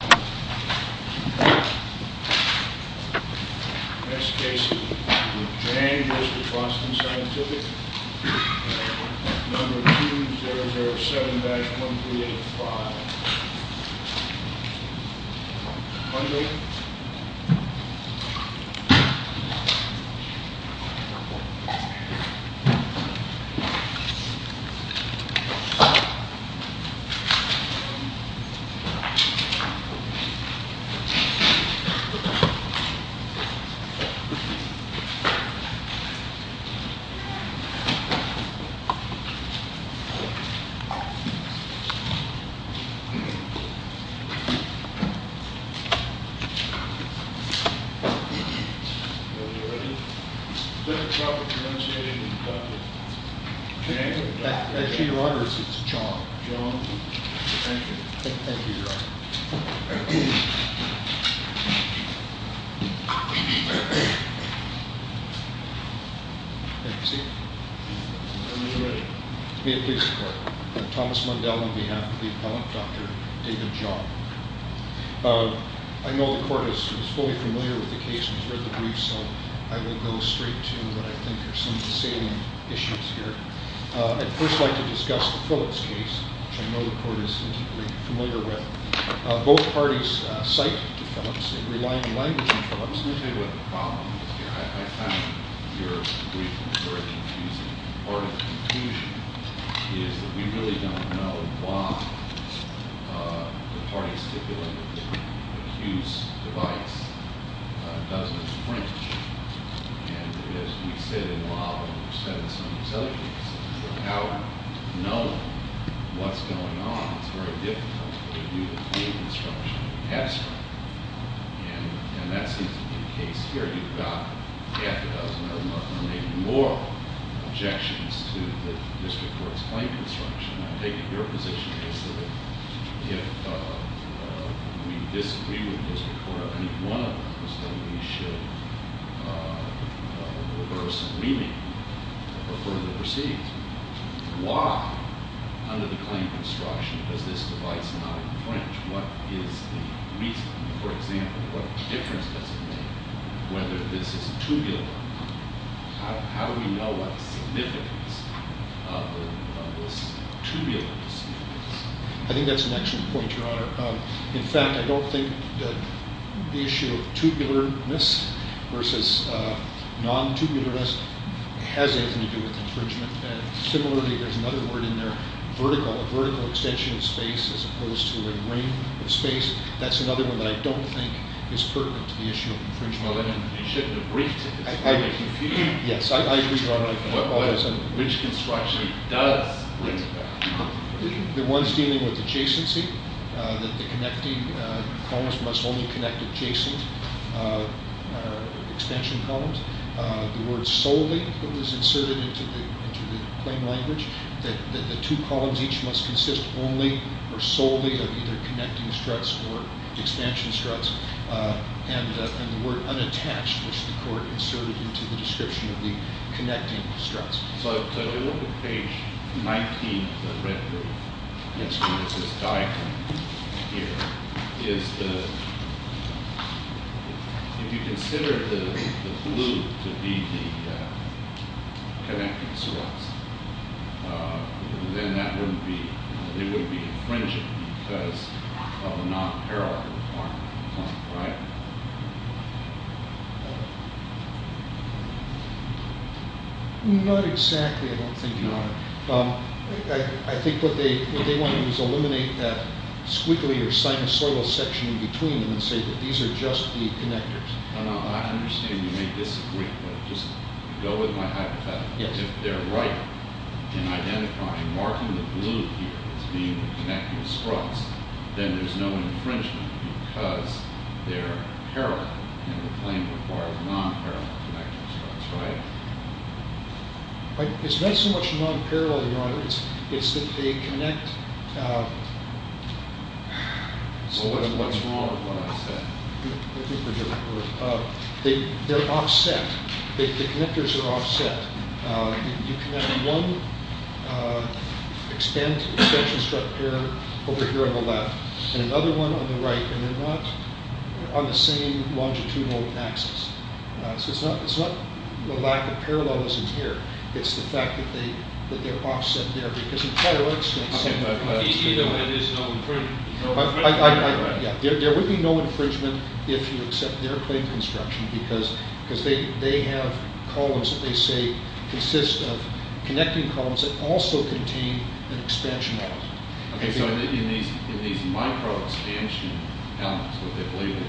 Next case is v. Boston Scientific, number 207-1385. V. Boston Scientific, number 207-1385. Are we ready? Is that the child we're commencing with, Dr. James? That's your daughter's. It's a child. John. Thank you. Thank you, Your Honor. Thank you, sir. Are we ready? May it please the court. Thomas Mundell on behalf of the appellant, Dr. David John. I know the court is fully familiar with the case, and has read the brief, so I will go straight to what I think are some of the salient issues here. I'd first like to discuss the Phillips case, which I know the court is familiar with. Both parties cite to Phillips. They rely on language in Phillips. Let me tell you what the problem is here. I found your brief very confusing. Part of the confusion is that we really don't know why the parties stipulated that the accused's device doesn't print. And as we've said in a while, and we've said in some of these other cases, without knowing what's going on, it's very difficult for you to create instruction. And that seems to be the case here. You've got half a dozen or maybe more objections to the district court's claim construction. I take it your position is that if we disagree with the district court on any one of them, then we should reverse and remake or further proceed. Why, under the claim construction, does this device not print? What is the reason? For example, what difference does it make whether this is tubular? How do we know what the significance of this tubular device? I think that's an excellent point, Your Honor. In fact, I don't think that the issue of tubularness versus non-tubularness has anything to do with infringement. And similarly, there's another word in there, vertical. A vertical extension of space as opposed to a ring of space. That's another one that I don't think is pertinent to the issue of infringement. Well, then we should have briefed it. Yes, I agree, Your Honor. Which construction does print that? The ones dealing with adjacency, that the connecting columns must only connect adjacent extension columns. The word solely was inserted into the claim language that the two columns each must consist only or solely of either connecting struts or extension struts. And the word unattached, which the court inserted into the description of the connecting struts. So if you look at page 19 of the red group, the instrument that's this diagram here, is if you consider the blue to be the connecting struts, then they wouldn't be infringing because of the non-parallel requirement, right? Not exactly, I don't think, Your Honor. I think what they want to do is eliminate that squiggly or sinusoidal section between them and say that these are just the connectors. No, no, I understand you may disagree, but just go with my hypothetical. If they're right in identifying, marking the blue here as being the connecting struts, then there's no infringement because they're parallel and the claim requires non-parallel connecting struts, right? It's not so much non-parallel, Your Honor. It's that they connect. So what's wrong with what I said? Let me put it differently. They're offset. The connectors are offset. You connect one extension strut pair over here on the left and another one on the right, and they're not on the same longitudinal axis. So it's not the lack of parallelism here. It's the fact that they're offset there because in prior exchanges... It's easier when there's no infringement. There would be no infringement if you accept their claim construction because they have columns that they say consist of connecting columns that also contain an expansion element. OK, so in these micro-expansion elements, what they label,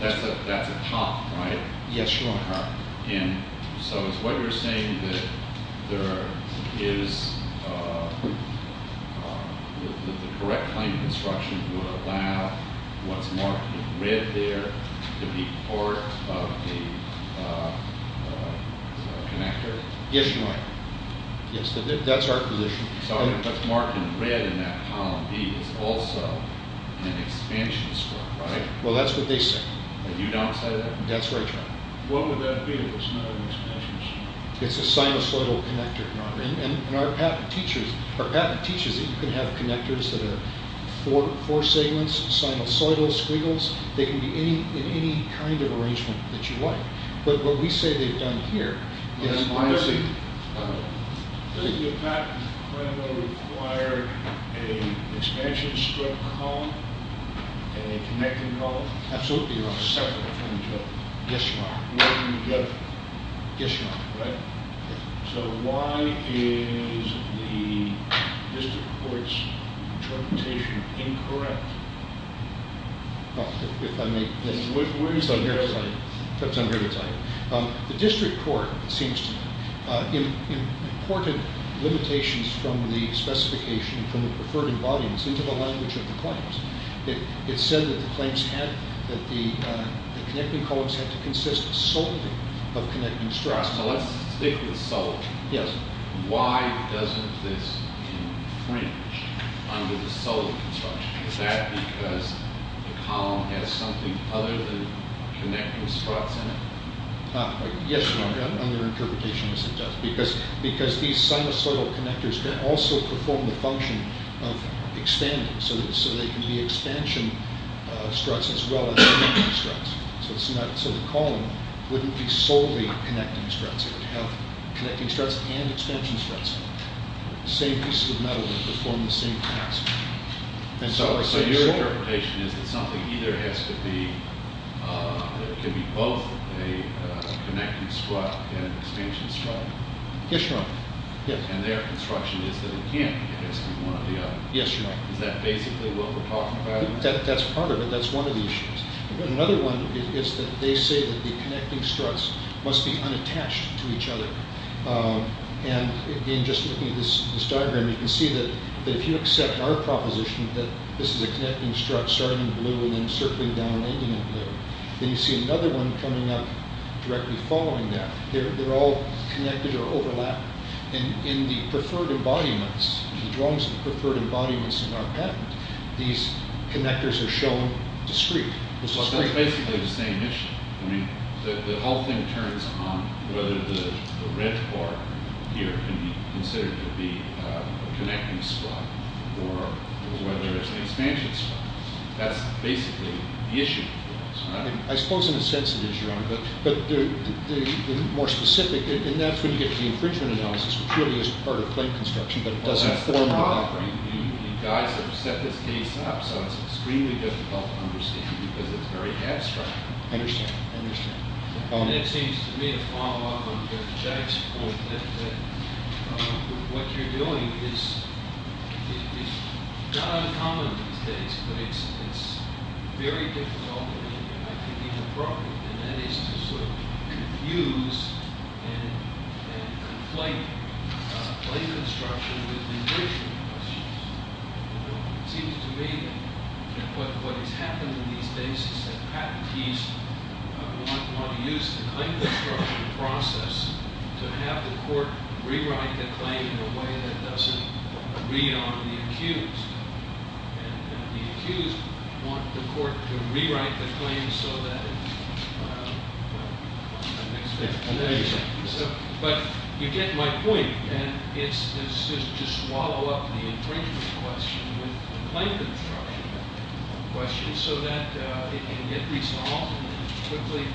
that's a top, right? Yes, Your Honor. And so it's what you're saying that there is the correct claim construction would allow what's marked in red there to be part of the connector? Yes, Your Honor. Yes, that's our position. So what's marked in red in that column B is also an expansion strut, right? Well, that's what they say. And you don't say that? That's right, Your Honor. What would that be if it's not an expansion strut? It's a sinusoidal connector, Your Honor. And our patent teaches that you can have connectors that are four segments, sinusoidal, squiggles. They can be in any kind of arrangement that you like. But what we say they've done here is- Let me see. Doesn't your patent require an expansion strut column and a connecting column? Absolutely, Your Honor. Separate from each other? Yes, Your Honor. Where do you get them? Yes, Your Honor. Right. So why is the district court's interpretation incorrect? If I may- Where do you get it? I'm here to tell you. The district court, it seems to me, imported limitations from the specification from the preferred embodiments into the language of the claims. It said that the claims had- that the connecting columns had to consist solely of connecting struts. So let's stick with solely. Yes. Why doesn't this infringe under the solely construction? Is that because the column has something other than connecting struts in it? Yes, Your Honor. Under interpretation, yes, it does. Because these sinusoidal connectors can also perform the function of expanding. So they can be expansion struts as well as connecting struts. So the column wouldn't be solely connecting struts. It would have connecting struts and expansion struts. Same piece of metal would perform the same task. So your interpretation is that something either has to be- can be both a connecting strut and an expansion strut? Yes, Your Honor. And their construction is that it can't be one or the other. Yes, Your Honor. Is that basically what we're talking about? That's part of it. That's one of the issues. Another one is that they say that the connecting struts must be unattached to each other. And in just looking at this diagram, you can see that if you accept our proposition that this is a connecting strut starting in blue and then circling down and ending in blue, then you see another one coming up directly following that. They're all connected or overlapped. And in the preferred embodiments, the drawings of the preferred embodiments in our patent, these connectors are shown discrete. That's basically the same issue. I mean, the whole thing turns on whether the red part here can be considered to be a connecting strut or whether it's an expansion strut. That's basically the issue. I suppose in a sense it is, Your Honor. But the more specific- and that's when you get to the infringement analysis, which really is part of plate construction, but it doesn't form the background. You guys have set this case up, so it's extremely difficult to understand because it's very abstract. I understand. I understand. It seems to me, to follow up on Judge Jack's point, that what you're doing is not uncommon these days, but it's very difficult, I think, in the program, and that is to sort of confuse and conflate plate construction with infringement questions. It seems to me that what has happened in these days is that patentees want to use the claim construction process to have the court rewrite the claim in a way that doesn't read on the accused. And the accused want the court to rewrite the claim so that it's... But you get my point, and it's just to swallow up the infringement question with the claim construction question so that it can get resolved and quickly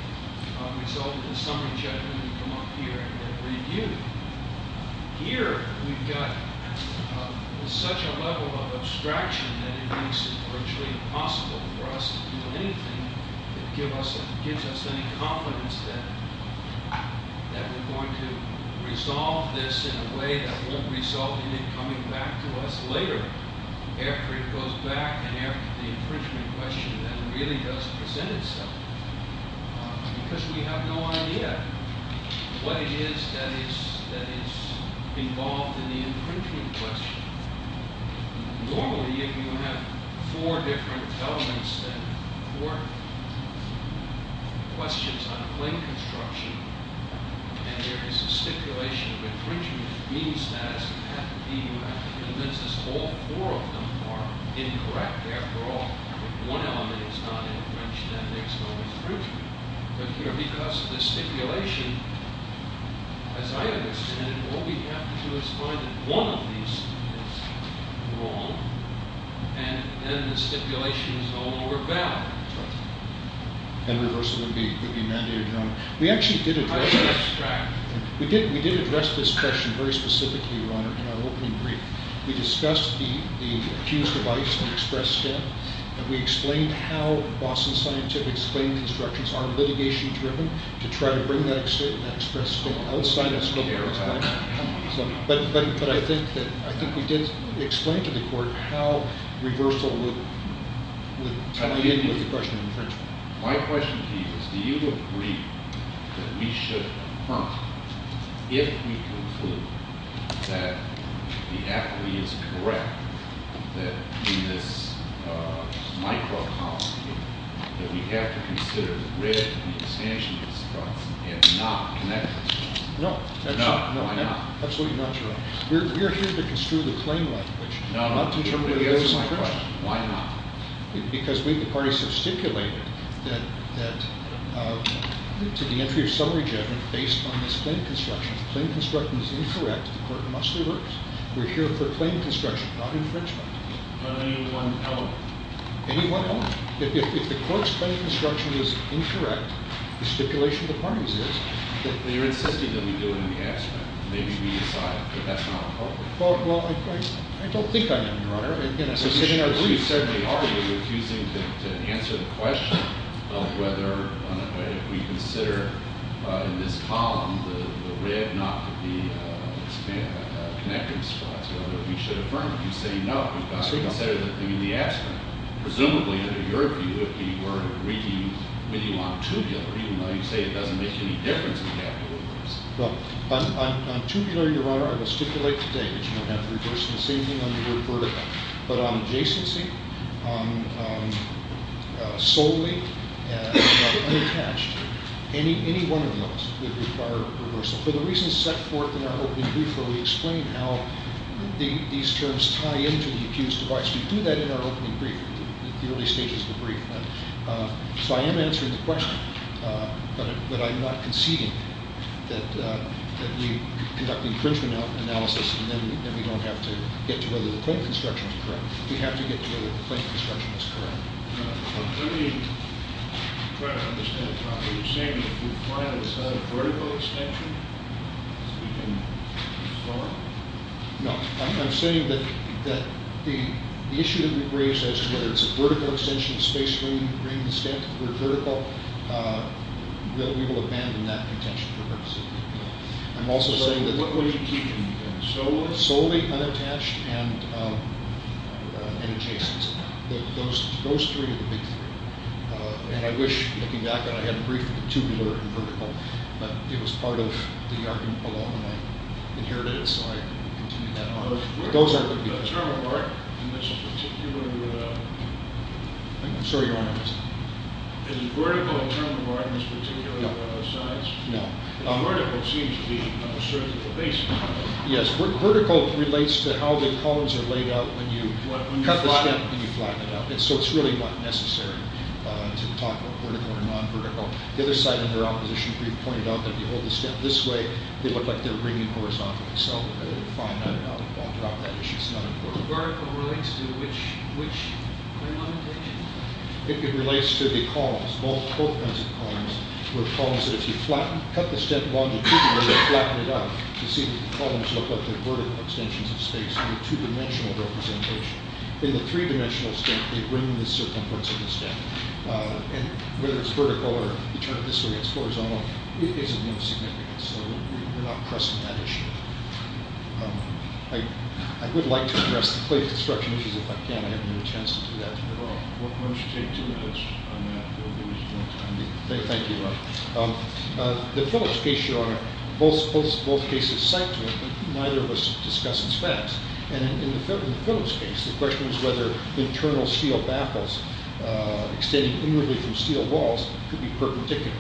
result in a summary judgment and come up here and get reviewed. Here we've got such a level of abstraction that it makes it virtually impossible for us to do anything that gives us any confidence that we're going to resolve this in a way that won't result in it coming back to us later, after it goes back and after the infringement question then really does present itself, because we have no idea what it is that is involved in the infringement question. Normally, if you have four different elements and four questions on claim construction, and there is a stipulation of infringement, it means that, as a patentee, you have to convince us all four of them are incorrect. After all, if one element is not infringed, then there's no infringement. But here, because of the stipulation, as I understand it, all we have to do is find that one of these is wrong, and then the stipulation is no longer valid. And reversal would be mandated, Your Honor. We actually did address this. We did address this question very specifically, Your Honor, in our opening brief. We discussed the accused device, the express step, and we explained how Boston Scientific's claim constructions are litigation-driven, to try to bring that express scope outside that scope. But I think we did explain to the court how reversal would manipulate the question of infringement. My question to you is, do you agree that we should confront, if we conclude that the affidavit is correct, that in this micro-policy, that we have to consider the grid, the expansion of the struts, and not connect the struts? No. No, why not? Absolutely not, Your Honor. We're here to construe the claim legislation. No, I'm not interpreting the answer to my question. Why not? Because we, the parties, have stipulated that to the entry of summary judgment, based on this claim construction, if the claim construction is incorrect, the court must reverse. We're here for claim construction, not infringement. Not any one element. Any one element. If the court's claim construction is incorrect, the stipulation of the parties is that- You're insisting that we do it in the abstract. Maybe we decide that that's not appropriate. Well, I don't think I am, Your Honor. You certainly are. You're refusing to answer the question of whether we consider, in this column, the red not to be connecting struts, whether we should affirm it. You say no. We've got to consider the thing in the abstract. Presumably, under your view, if we were reading with you on tubular, even though you say it doesn't make any difference in capital rules. On tubular, Your Honor, I will stipulate today that you don't have to reverse it. The same thing on the word vertical. But on adjacency, on solely, and on unattached, any one of those would require a reversal. For the reasons set forth in our opening brief where we explain how these terms tie into the accused device, we do that in our opening brief, the early stages of the brief. So I am answering the question, but I'm not conceding that we conduct the infringement analysis and then we don't have to get to whether the plate construction is correct. We have to get to whether the plate construction is correct. Let me try to understand. Are you saying that if we find that it's not a vertical extension, we can move forward? No. I'm saying that the issue that we've raised, whether it's a vertical extension, a space ring extension, or vertical, we will abandon that contention for courtesy. What are you keeping? Solely? Solely, unattached, and adjacent. Those three are the big three. And I wish, looking back on it, I had a brief tubular and vertical, but it was part of the argument along the way. And here it is, so I continue that argument. The term of art in this particular... I'm sorry, your Honor. Is the vertical term of art in this particular size? No. Vertical seems to be an assertive or basic term. Yes. Vertical relates to how the columns are laid out when you cut the stem and you flatten it out. So it's really not necessary to talk about vertical or non-vertical. The other side in their opposition brief pointed out that if you hold the stem this way, they look like they're ringing horizontally. So I would find that out. I'll drop that issue. It's not important. Vertical relates to which orientation? I think it relates to the columns, both kinds of columns, where columns that if you cut the stem longitudinally and flatten it out, you see the columns look like they're vertical extensions of space in a two-dimensional representation. In the three-dimensional stem, they ring the circumference of the stem. And whether it's vertical or, you turn it this way, it's horizontal, it is of no significance. So we're not pressing that issue. I would like to address the plate construction issues if I can. I haven't had a chance to do that at all. Well, why don't you take two minutes on that? Thank you, Your Honor. The Phillips case, Your Honor, both cases cite to it, but neither of us discuss its facts. And in the Phillips case, the question was whether internal steel baffles extending inwardly from steel walls could be perpendicular.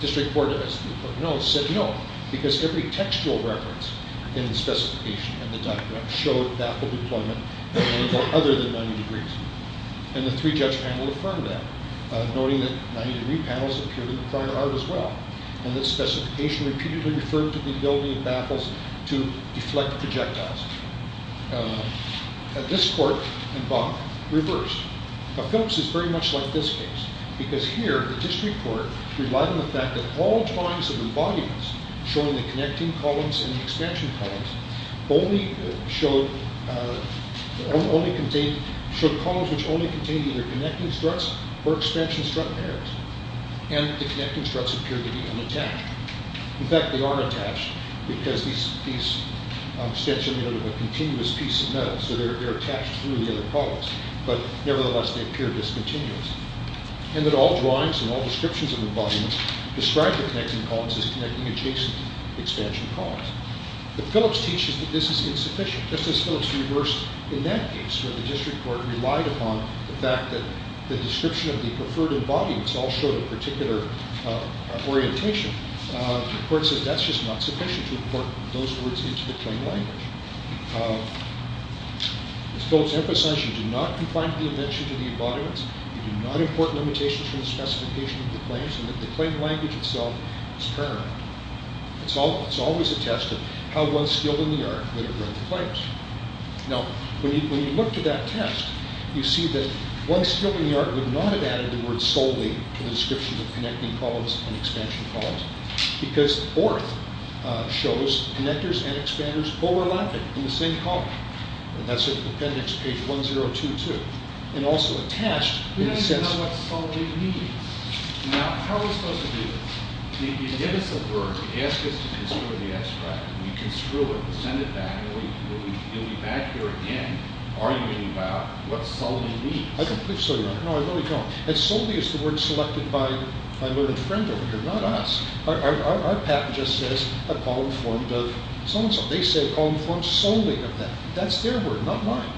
District Court has said no, because every textual reference in the specification in the document showed baffle deployment other than 90 degrees. And the three-judge panel affirmed that. Noting that 90-degree panels appeared in the prior art as well. And this specification repeatedly referred to the ability of baffles to deflect projectiles. At this court, and both, reversed. The Phillips is very much like this case. Because here, the District Court relied on the fact that all drawings of the volumes showing the connecting columns and the expansion columns only showed columns which only contained either connecting struts or expansion strut pairs. And the connecting struts appeared to be unattached. In fact, they aren't attached, because these struts are made of a continuous piece of metal, so they're attached through the other columns. But nevertheless, they appear discontinuous. And that all drawings and all descriptions of the volumes described the connecting columns as connecting adjacent expansion columns. The Phillips teaches that this is insufficient, just as Phillips reversed in that case, where the District Court relied upon the fact that the description of the preferred embodiments all showed a particular orientation. The court says that's just not sufficient to import those words into the claim language. As Phillips emphasizes, you do not confine the invention to the embodiments, you do not import limitations from the specification of the claims, and that the claim language itself is paramount. It's always a test of how well skilled in the art that have read the claims. Now, when you look to that test, you see that once skilled in the art would not have added the word solely to the description of connecting columns and expansion columns, because the fourth shows connectors and expanders overlapping in the same column. That's in the appendix, page 1022. And also attached, in a sense... We don't even know what solely means. Now, how are we supposed to do this? You give us a word, you ask us to construe the extract, we construe it, send it back, and you'll be back here again arguing about what solely means. I don't think so, Your Honor. No, I really don't. And solely is the word selected by my learned friend over here, not us. Our patent just says, a column formed of so-and-so. They say a column formed solely of them. That's their word, not mine.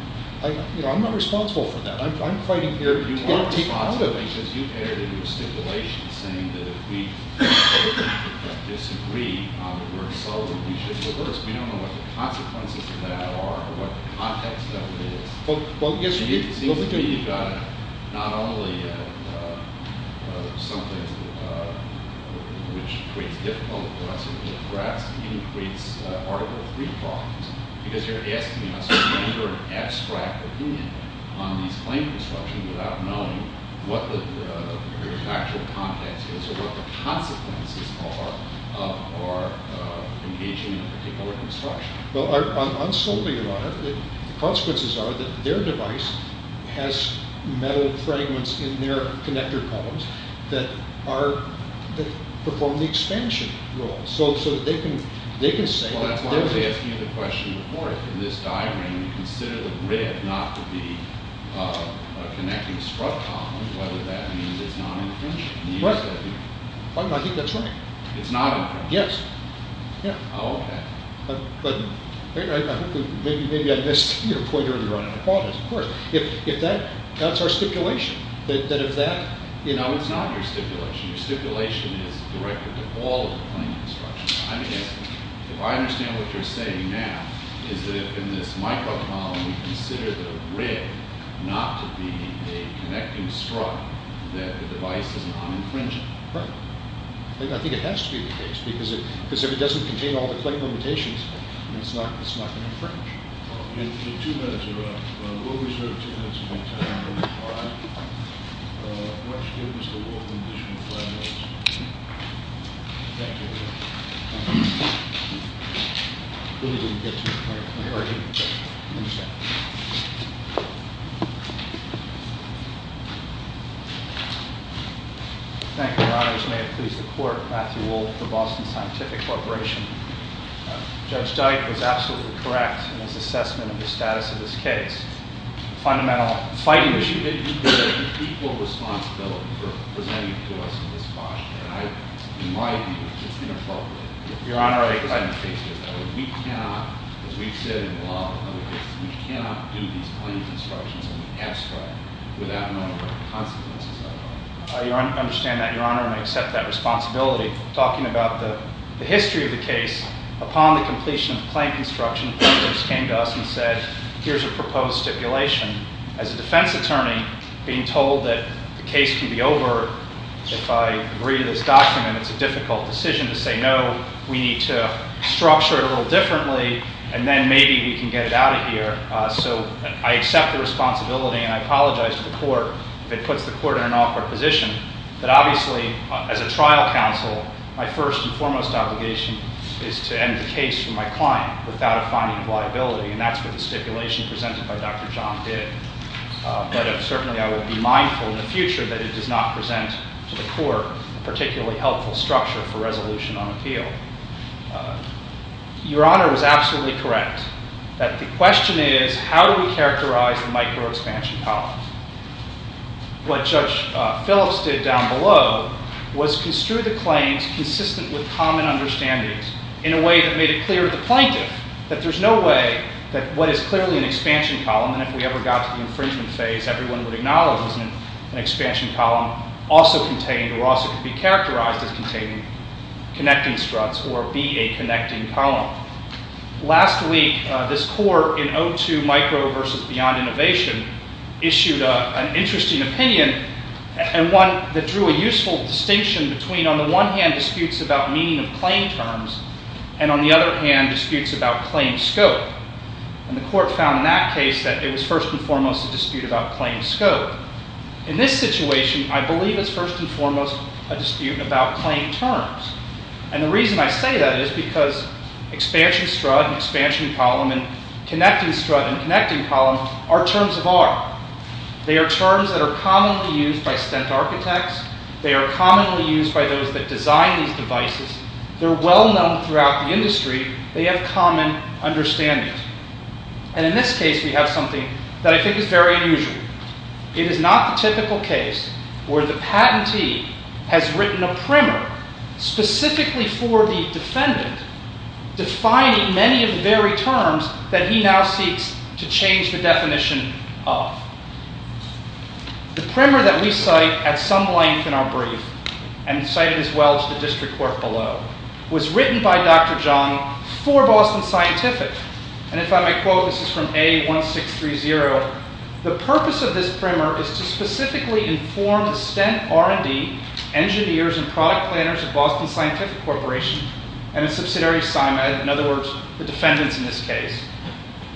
I'm not responsible for that. I'm fighting here to get a team out of it. You are responsible, because you've added in your stipulation saying that if we disagree on the word solely, we should reverse. We don't know what the consequences of that are, or what the context of it is. It seems to me you've got not only something which creates difficulty for us, but perhaps even creates Article III problems. Because you're asking us to render an abstract opinion on these claims construction without knowing what the actual context is, or what the consequences are of engaging in a particular construction. Well, on solely, Your Honor, the consequences are that their device has metal fragments in their connector columns that perform the expansion role. So they can say that... Well, that's why I was asking you the question before. If in this diagram you consider the grid not to be a connecting strut column, whether that means it's not infringing I think that's right. It's not infringing? Yes. Oh, okay. But maybe I missed your point earlier on, and I apologize, of course. If that's our stipulation, that if that... No, it's not your stipulation. Your stipulation is directed to all of the claim construction. I mean, if I understand what you're saying now, is that if in this microcolumn we consider the grid not to be a connecting strut that the device is not infringing? Right. I think it has to be the case, because if it doesn't contain all the claim limitations, then it's not going to infringe. Okay. Two minutes are up. We'll reserve two minutes of your time. All right? Let's give Mr. Wolfman additional five minutes. Thank you. Really didn't get to the point of clarity. I understand. Thank you, Your Honors. May it please the Court, Matthew Wolfe for Boston Scientific Corporation. Judge Dyke was absolutely correct in his assessment of the status of this case. Fundamental fighting issue... You did equal responsibility for presenting to us this question. In my view, it's inappropriate. Your Honor, I... We cannot, as we've said in the law, we cannot do these claim constructions in the past way without knowing what the consequences are. I understand that, Your Honor, and I accept that responsibility. Talking about the history of the case, upon the completion of the claim construction, the plaintiffs came to us and said, here's a proposed stipulation. As a defense attorney, being told that the case can be over, if I agree to this document, it's a difficult decision to say, no, we need to structure it a little differently, and then maybe we can get it out of here. So I accept the responsibility, and I apologize to the court if it puts the court in an awkward position, but obviously, as a trial counsel, my first and foremost obligation is to end the case for my client without a finding of liability, and that's what the stipulation presented by Dr. John did. But certainly I will be mindful in the future that it does not present to the court a particularly helpful structure for resolution on appeal. Your Honor was absolutely correct that the question is, how do we characterize the micro-expansion column? What Judge Phillips did down below was construe the claims consistent with common understandings in a way that made it clear to the plaintiff that there's no way that what is clearly an expansion column, and if we ever got to the infringement phase, everyone would acknowledge that an expansion column also contained or also could be characterized as containing connecting struts or be a connecting column. Last week, this court in O2 Micro v. Beyond Innovation issued an interesting opinion, and one that drew a useful distinction between on the one hand disputes about meaning of claim terms and on the other hand disputes about claim scope. And the court found in that case that it was first and foremost a dispute about claim scope. In this situation, I believe it's first and foremost a dispute about claim terms. And the reason I say that is because expansion strut and expansion column and connecting strut and connecting column are terms of art. They are terms that are commonly used by stent architects. They are commonly used by those that design these devices. They're well known throughout the industry. They have common understandings. And in this case, we have something that I think is very unusual. It is not the typical case where the patentee has written a primer specifically for the defendant, defining many of the very terms that he now seeks to change the definition of. The primer that we cite at some length in our brief, and cited as well as the district court below, was written by Dr. John for Boston Scientific. And if I may quote, this is from A1630, the purpose of this primer is to specifically inform the stent R&D engineers and product planners of Boston Scientific Corporation and its subsidiary, Symed, in other words, the defendants in this case,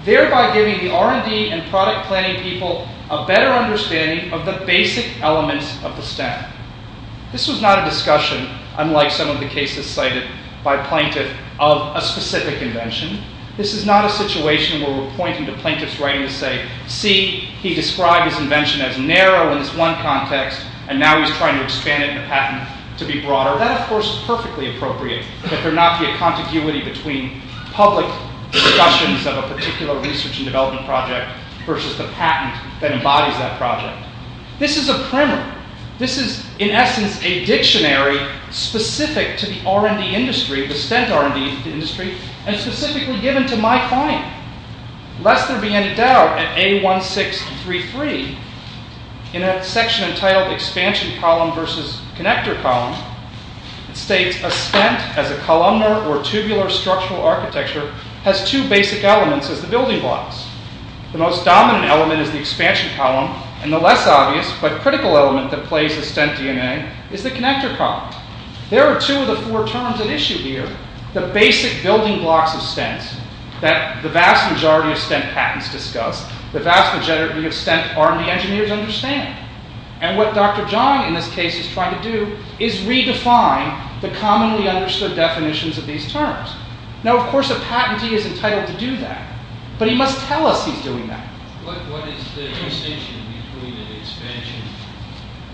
thereby giving the R&D and product planning people a better understanding of the basic elements of the stent. This was not a discussion, unlike some of the cases cited by plaintiff, of a specific invention. This is not a situation where we're pointing to plaintiff's writing to say, see, he described his invention as narrow in this one context, and now he's trying to expand it in a patent to be broader. That, of course, is perfectly appropriate, that there not be a contiguity between public discussions of a particular research and development project versus the patent that embodies that project. This is a primer. This is, in essence, a dictionary specific to the R&D industry, the stent R&D industry, and specifically given to my client. Lest there be any doubt, at A1633, in a section entitled Expansion Column versus Connector Column, it states, a stent, as a columnar or tubular structural architecture, has two basic elements as the building blocks. The most dominant element is the expansion column, and the less obvious but critical element that plays the stent DNA is the connector column. There are two of the four terms at issue here, the basic building blocks of stent that the vast majority of stent patents discuss, the vast majority of stent R&D engineers understand. And what Dr. Zhang, in this case, is trying to do is redefine the commonly understood definitions of these terms. Now, of course, a patentee is entitled to do that, but he must tell us he's doing that. What is the distinction between an expansion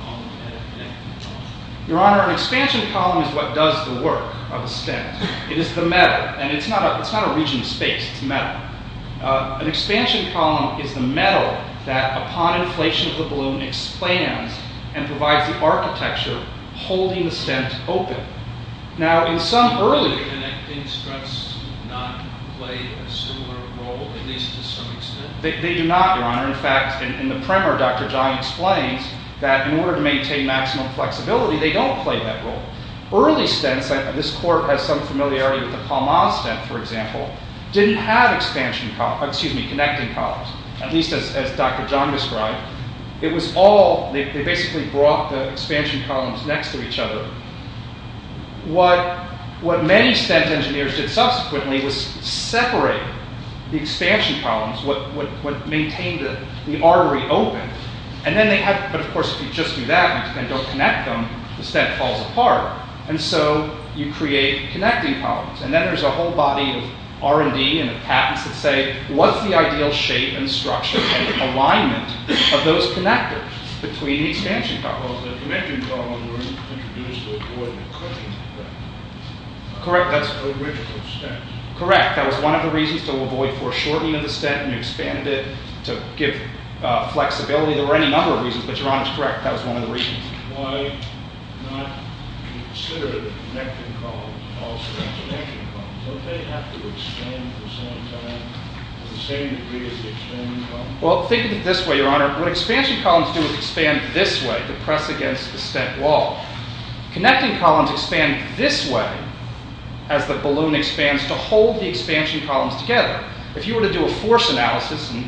column and a connector column? Your Honor, an expansion column is what does the work of a stent. It is the metal, and it's not a region of space, it's metal. An expansion column is the metal that, upon inflation of the balloon, expands and provides the architecture holding the stent open. Now, in some earlier... Do connecting struts not play a similar role, at least to some extent? They do not, Your Honor. In fact, in the primer, Dr. Zhang explains that in order to maintain maximum flexibility, they don't play that role. Early stents, this court has some familiarity with the Palmaz stent, for example, didn't have connecting columns, at least as Dr. Zhang described. It was all... They basically brought the expansion columns next to each other. What many stent engineers did subsequently was separate the expansion columns, what maintained the artery open, and then they had... But, of course, if you just do that and don't connect them, the stent falls apart, and so you create connecting columns. And then there's a whole body of R&D and patents that say, what's the ideal shape and structure and alignment of those connectors between the expansion columns? Well, the connecting columns were introduced to avoid the cutting of the stent. Correct, that's... The original stent. Correct, that was one of the reasons to avoid foreshortening of the stent, and you expanded it to give flexibility. There were any number of reasons, but Your Honor's correct. That was one of the reasons. Why not consider the connecting columns also as connecting columns? Don't they have to expand at the same time, to the same degree as the expanding columns? Well, think of it this way, Your Honor. What expansion columns do is expand this way to press against the stent wall. Connecting columns expand this way as the balloon expands to hold the expansion columns together. If you were to do a force analysis, and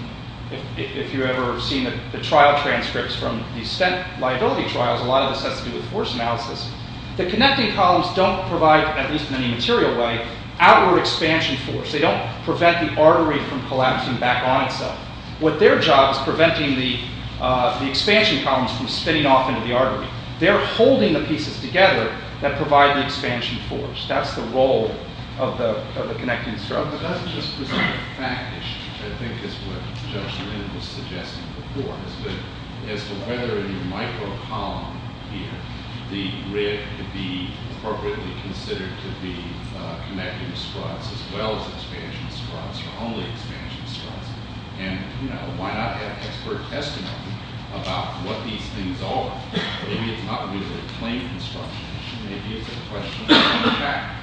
if you've ever seen the trial transcripts from the stent liability trials, a lot of this has to do with force analysis. The connecting columns don't provide, at least in any material way, outward expansion force. They don't prevent the artery from collapsing back on itself. What their job is preventing the expansion columns from spinning off into the artery. They're holding the pieces together that provide the expansion force. That's the role of the connecting structure. But that doesn't just present a fact issue. I think it's what Judge Lin was suggesting before. As to whether in your micro column here, the rib could be appropriately considered to be connecting struts, as well as expansion struts, or only expansion struts. And, you know, why not have expert testimony about what these things are? Maybe it's not really a claim construction issue. Maybe it's a question of fact.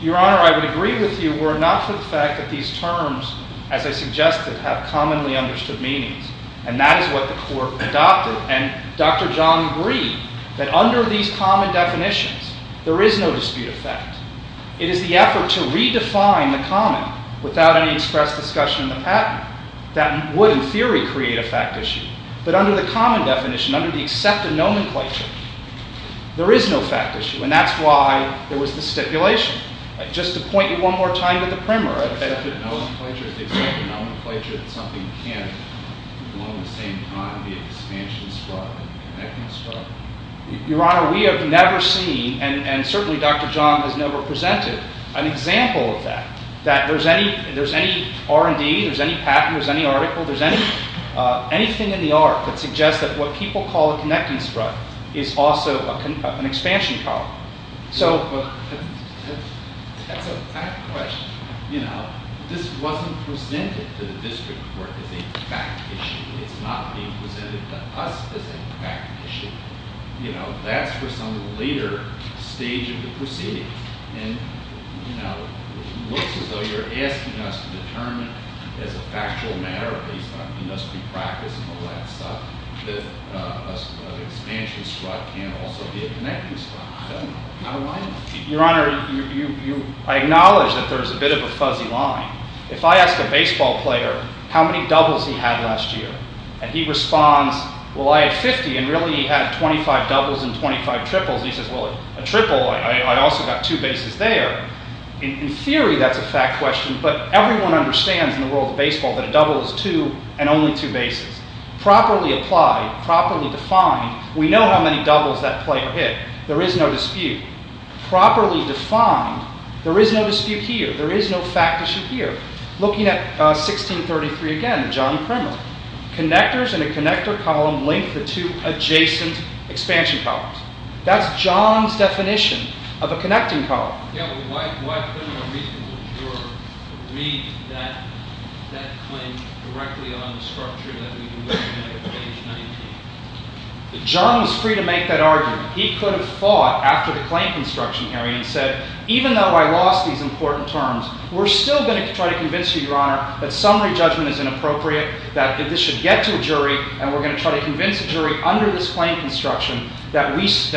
Your Honor, I would agree with you were it not for the fact that these terms, as I suggested, have commonly understood meanings. And that is what the court adopted. And Dr. John agreed that under these common definitions, there is no dispute of fact. It is the effort to redefine the common without any express discussion in the patent that would, in theory, create a fact issue. But under the common definition, under the accepted nomenclature, there is no fact issue. And that's why there was the stipulation. Just to point you one more time to the primer. The accepted nomenclature is the accepted nomenclature that something can, along the same time, be an expansion strut, a connecting strut. Your Honor, we have never seen, and certainly Dr. John has never presented, an example of that. That there's any R&D, there's any patent, there's any article, there's anything in the art that suggests that what people call a connecting strut is also an expansion strut. That's a fact question. This wasn't presented to the district court as a fact issue. It's not being presented to us as a fact issue. That's for some later stage of the proceedings. And it looks as though you're asking us to determine as a factual matter, based on industry practice and all that stuff, that an expansion strut can also be a connecting strut. I don't know. How do I know? Your Honor, I acknowledge that there's a bit of a fuzzy line. If I ask a baseball player how many doubles he had last year, and he responds, well, I had 50, and really he had 25 doubles and 25 triples, and he says, well, a triple, I also got two bases there. In theory, that's a fact question. But everyone understands in the world of baseball that a double is two and only two bases. Properly applied, properly defined, we know how many doubles that player hit. There is no dispute. Properly defined, there is no dispute here. There is no fact issue here. Looking at 1633 again, John Krimer, connectors in a connector column link the two adjacent expansion columns. That's John's definition of a connecting column. Yeah, but why couldn't a reasonable juror read that claim directly on the structure that we were looking at at page 19? John was free to make that argument. He could have fought after the claim construction hearing and said, even though I lost these important terms, we're still going to try to convince you, Your Honor, that summary judgment is inappropriate, that this should get to a jury, and we're going to try to convince a jury under this claim construction that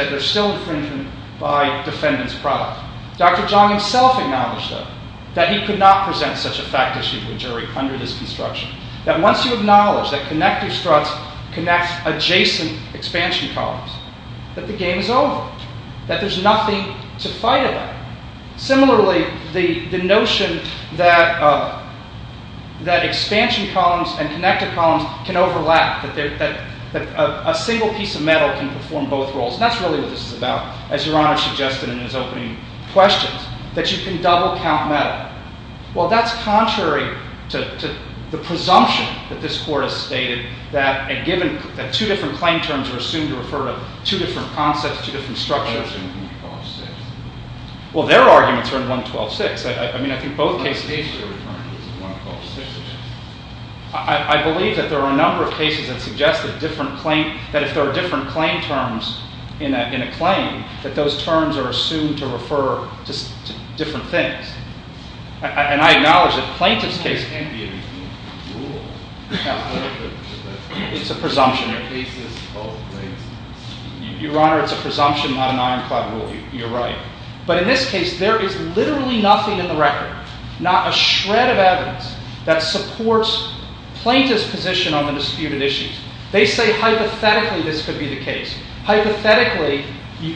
they're still infringement by defendant's product. Dr. John himself acknowledged, though, that he could not present such a fact issue to a jury under this construction, that once you acknowledge that connector struts connect adjacent expansion columns, that the game is over, that there's nothing to fight about. Similarly, the notion that expansion columns and connector columns can overlap, that a single piece of metal can perform both roles, and that's really what this is about, as Your Honor suggested in his opening questions, that you can double count metal. Well, that's contrary to the presumption that this Court has stated that two different claim terms are assumed to refer to two different concepts, two different structures. Well, their arguments are in 112-6. I mean, I think both cases... One case they're referring to is 112-6. I believe that there are a number of cases that suggest that if there are different claim terms in a claim, that those terms are assumed to refer to different things. And I acknowledge that the plaintiff's case... It's a presumption. Your Honor, it's a presumption, not an ironclad rule. You're right. But in this case, there is literally nothing in the record, not a shred of evidence, that supports plaintiff's position on the disputed issues. They say hypothetically this could be the case. Hypothetically,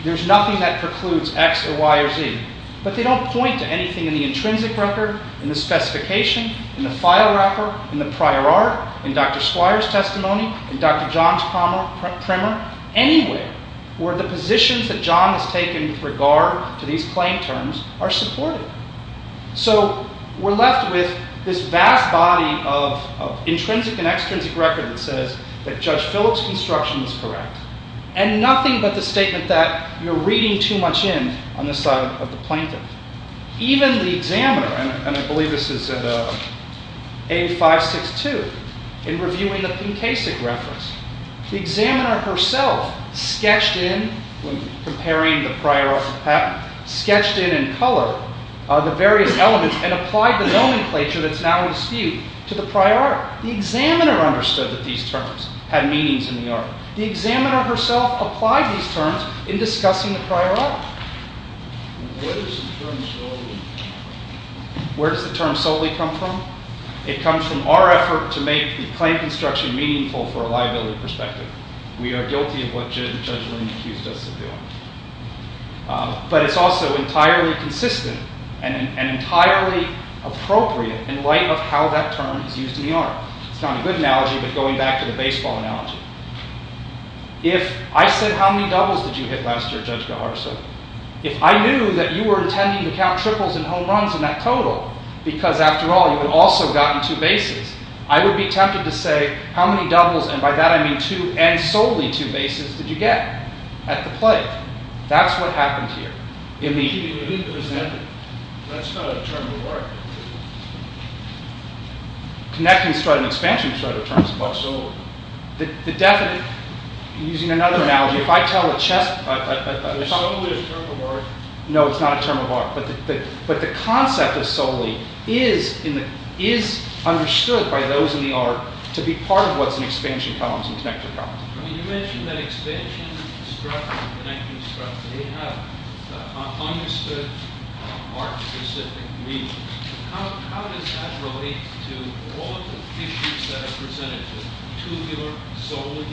there's nothing that precludes X or Y or Z. But they don't point to anything in the intrinsic record, in the specification, in the file wrapper, in the prior art, in Dr. Squire's testimony, in Dr. John's primer, anywhere where the positions that John has taken with regard to these claim terms are supported. So we're left with this vast body of intrinsic and extrinsic record that says that Judge Phillips' construction is correct, and nothing but the statement that you're reading too much in on the side of the plaintiff. Even the examiner, and I believe this is at A562, in reviewing the Pinkasic reference, the examiner herself sketched in, when comparing the prior art to patent, sketched in in color the various elements and applied the nomenclature that's now in dispute to the prior art. The examiner understood that these terms had meanings in the art. The examiner herself applied these terms in discussing the prior art. Where does the term solely come from? It comes from our effort to make the claim construction meaningful for a liability perspective. We are guilty of what Judge Linn accused us of doing. But it's also entirely consistent and entirely appropriate in light of how that term is used in the art. It's not a good analogy, but going back to the baseball analogy. If I said, how many doubles did you hit last year, Judge Gajarzo? If I knew that you were intending to count triples and home runs in that total, because, after all, you had also gotten two bases, I would be tempted to say, how many doubles, and by that I mean two, and solely two bases, did you get at the play? That's what happened here. Immediately presented. That's not a term of art. Connecting strut and expansion strut are terms of art. The definite, using another analogy, if I tell a chess... It's solely a term of art. No, it's not a term of art. But the concept of solely is understood by those in the art to be part of what's in expansion columns and connector columns. You mentioned that expansion strut and connector strut, they have understood art-specific meanings. How does that relate to all of the issues that are presented here? Tubular, solely,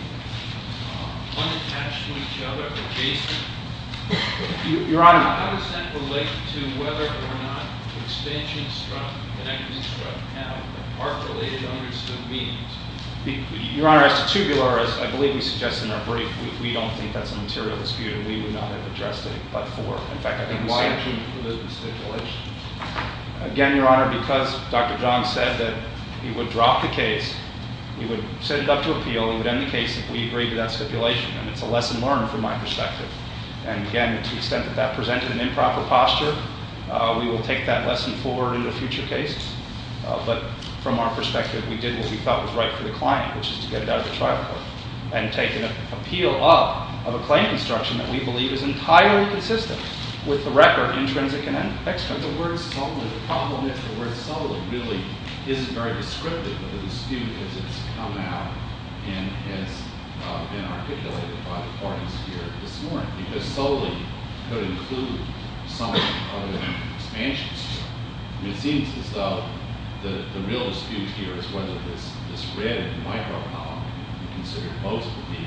unattached to each other, adjacent? Your Honor... How does that relate to whether or not expansion strut and connector strut have art-related understood meanings? Your Honor, as to tubular, as I believe he suggested in our brief, we don't think that's a material dispute, and we would not have addressed it but for... In fact, I think why... Again, Your Honor, because Dr. John said that he would drop the case, he would set it up to appeal, he would end the case if we agreed to that stipulation, and it's a lesson learned from my perspective. And again, to the extent that that presented an improper posture, we will take that lesson forward in a future case. But from our perspective, we did what we thought was right for the client, which is to get it out of the trial court and take an appeal up of a claim construction that we believe is entirely consistent with the record, intrinsic and extrinsic. The word solely, the problem is the word solely really isn't very descriptive of the dispute as it's come out and has been articulated by the court here this morning. Because solely could include something other than expansion strut. It seems as though the real dispute here is whether this red micro-column we consider both to be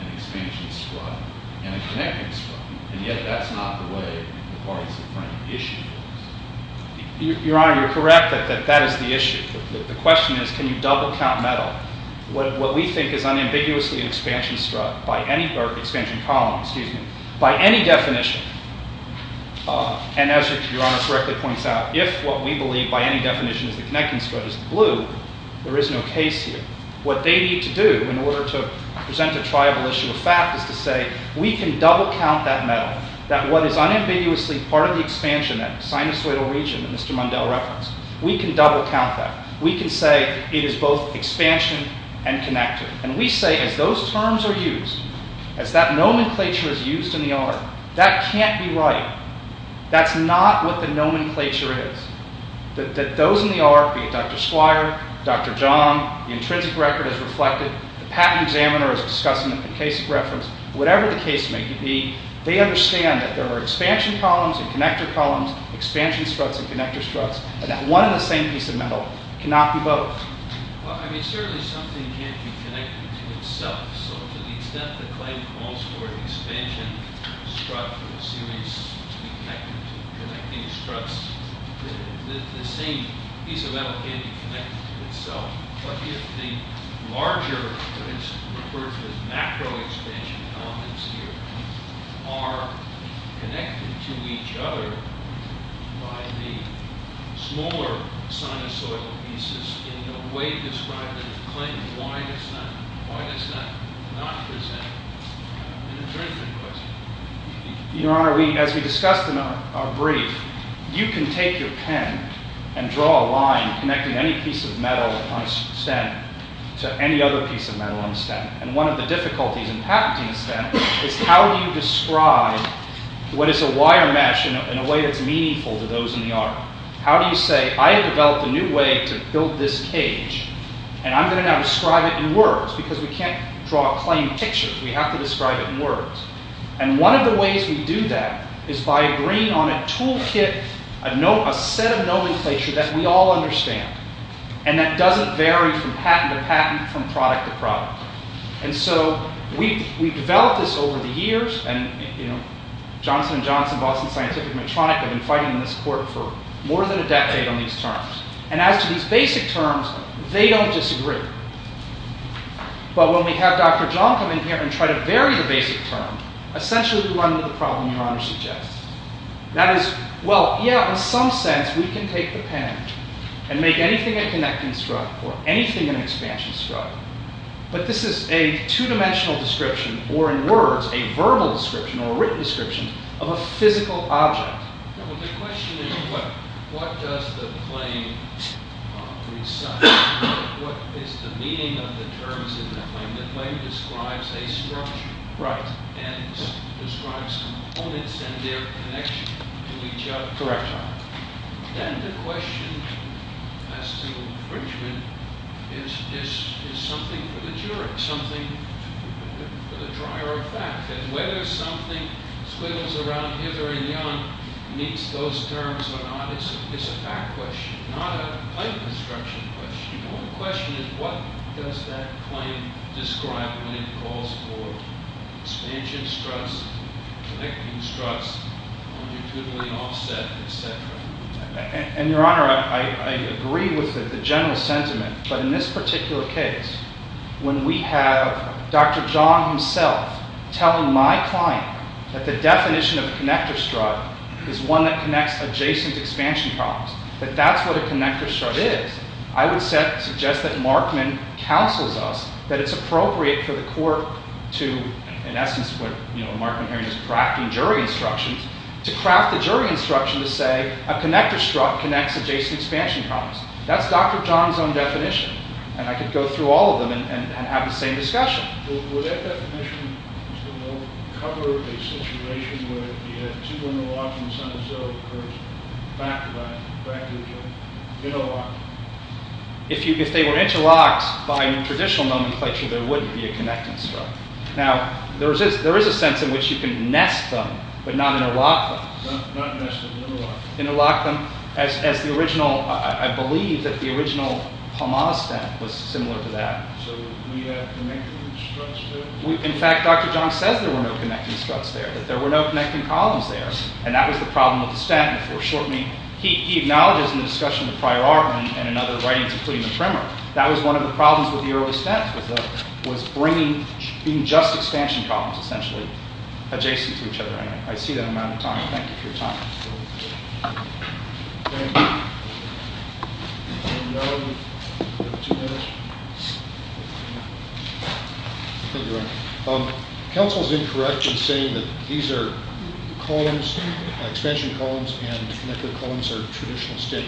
an expansion strut and a connecting strut, and yet that's not the way the parties have framed the issue. Your Honor, you're correct that that is the issue. The question is, can you double count metal? What we think is unambiguously an expansion column by any definition, and as Your Honor correctly points out, if what we believe by any definition is the connecting strut is the blue, there is no case here. What they need to do in order to present a triable issue of fact is to say we can double count that metal, that what is unambiguously part of the expansion, that sinusoidal region that Mr. Mundell referenced, we can double count that. We can say it is both expansion and connector. And we say as those terms are used, as that nomenclature is used in the art, that can't be right. That's not what the nomenclature is. That those in the art, be it Dr. Squire, Dr. John, the intrinsic record is reflected, the patent examiner is discussing the case of reference, whatever the case may be, they understand that there are expansion columns and connector columns, expansion struts and connector struts, and that one and the same piece of metal cannot be both. Well, I mean, certainly something can't be connected to itself. So to the extent the claim calls for an expansion strut from a series to be connected to connecting struts, the same piece of metal can't be connected to itself. But if the larger, what is referred to as macro expansion elements here, are connected to each other by the smaller sinusoidal pieces in the way described in the claim, why does that not present an intrinsic question? Your Honor, as we discussed in our brief, you can take your pen and draw a line connecting any piece of metal on a stem and one of the difficulties in patenting a stem is how do you describe what is a wire mesh in a way that's meaningful to those in the art. How do you say, I have developed a new way to build this cage and I'm going to now describe it in words because we can't draw a plain picture. We have to describe it in words. And one of the ways we do that is by agreeing on a toolkit, a set of nomenclature that we all understand and that doesn't vary from patent to patent, from product to product. And so we've developed this over the years and Johnson & Johnson, Boston Scientific and Medtronic have been fighting on this court for more than a decade on these terms. And as to these basic terms, they don't disagree. But when we have Dr. John come in here and try to vary the basic term, essentially we run into the problem Your Honor suggests. And make anything a connecting strut or anything an expansion strut. But this is a two-dimensional description or in words, a verbal description or a written description of a physical object. The question is what does the plane recite? What is the meaning of the terms in the plane? The plane describes a structure and describes components and their connection to each other. Then the question as to infringement is something for the jury, something for the dryer of facts. And whether something swivels around hither and yon meets those terms or not is a fact question, not a plain construction question. The question is what does that plane describe when it calls for expansion struts, connecting struts, when you're doodling offset, et cetera. And Your Honor, I agree with the general sentiment. But in this particular case, when we have Dr. John himself telling my client that the definition of a connector strut is one that connects adjacent expansion props, that that's what a connector strut is, I would suggest that Markman counsels us that it's appropriate for the court to, in essence, where Markman here is just crafting jury instructions, to craft a jury instruction to say a connector strut connects adjacent expansion props. That's Dr. John's own definition. And I could go through all of them and have the same discussion. Would that definition cover a situation where the two interlocks in the center zero occurs backed by practically interlocking? If they were interlocked by traditional nomenclature, there wouldn't be a connecting strut. Now, there is a sense in which you can nest them, but not interlock them. Not nest them, interlock them. Interlock them, as the original, I believe that the original Palmas stent was similar to that. So we have connecting struts there? In fact, Dr. John says there were no connecting struts there, that there were no connecting columns there. And that was the problem with the stent. He acknowledges in the discussion of prior art and in other writings, including the trimmer, that was one of the problems with the early stent, was being just expansion columns, essentially, adjacent to each other. I see that amount of time. Thank you for your time. Council is incorrect in saying that these are columns, expansion columns and neckler columns are traditional state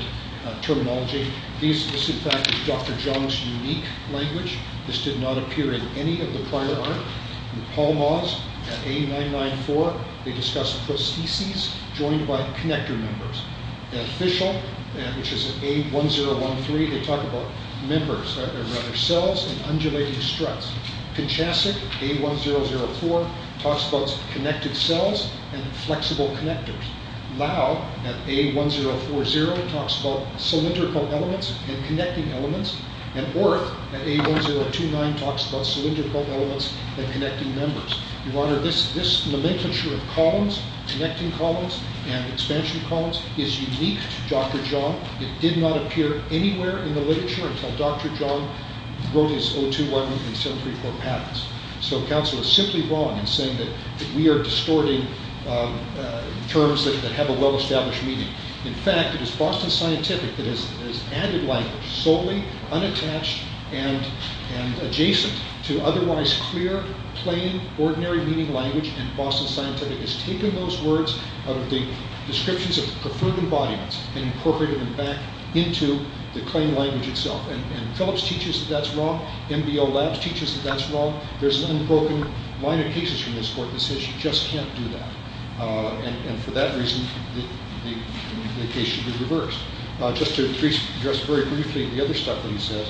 terminology. This, in fact, is Dr. John's unique language. This did not appear in any of the prior art. In Palmas, at A994, they discuss prostheses joined by connector members. At Fishel, which is at A1013, they talk about members, or rather cells, and undulating struts. Kinchasic, A1004, talks about connected cells and flexible connectors. Lau, at A1040, talks about cylindrical elements and connecting elements. And Orth, at A1029, talks about cylindrical elements and connecting members. Your Honor, this nomenclature of columns, connecting columns and expansion columns, is unique to Dr. John. It did not appear anywhere in the literature until Dr. John wrote his 021 and 0734 patents. So Council is simply wrong in saying that we are distorting terms that have a well-established meaning. In fact, it is Boston Scientific that has added language solely unattached and adjacent to otherwise clear, plain, ordinary-meaning language, and Boston Scientific has taken those words out of the descriptions of preferred embodiments and incorporated them back into the claimed language itself. And Phillips teaches that that's wrong. MBO Labs teaches that that's wrong. There's an unbroken line of cases from this court that says you just can't do that. And for that reason, the case should be reversed. Just to address very briefly the other stuff that he says,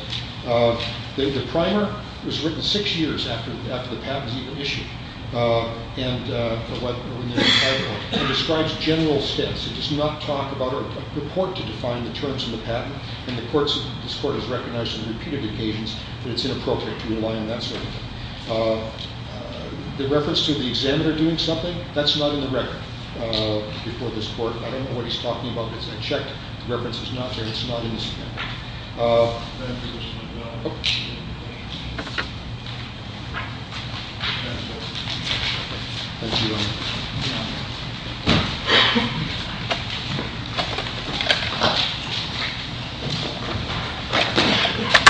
the primer was written six years after the patent was even issued. And it describes general stance. It does not talk about or purport to define the terms of the patent. And this court has recognized on repeated occasions that it's inappropriate to rely on that sort of thing. The reference to the examiner doing something, that's not in the record before this court. I don't know what he's talking about, because I checked. The reference is not there. It's not in the statement. Thank you, Mr. McGill. Thank you. Thank you. Thank you. Thank you. Thank you. Thank you. Thank you. Thank you. Thank you.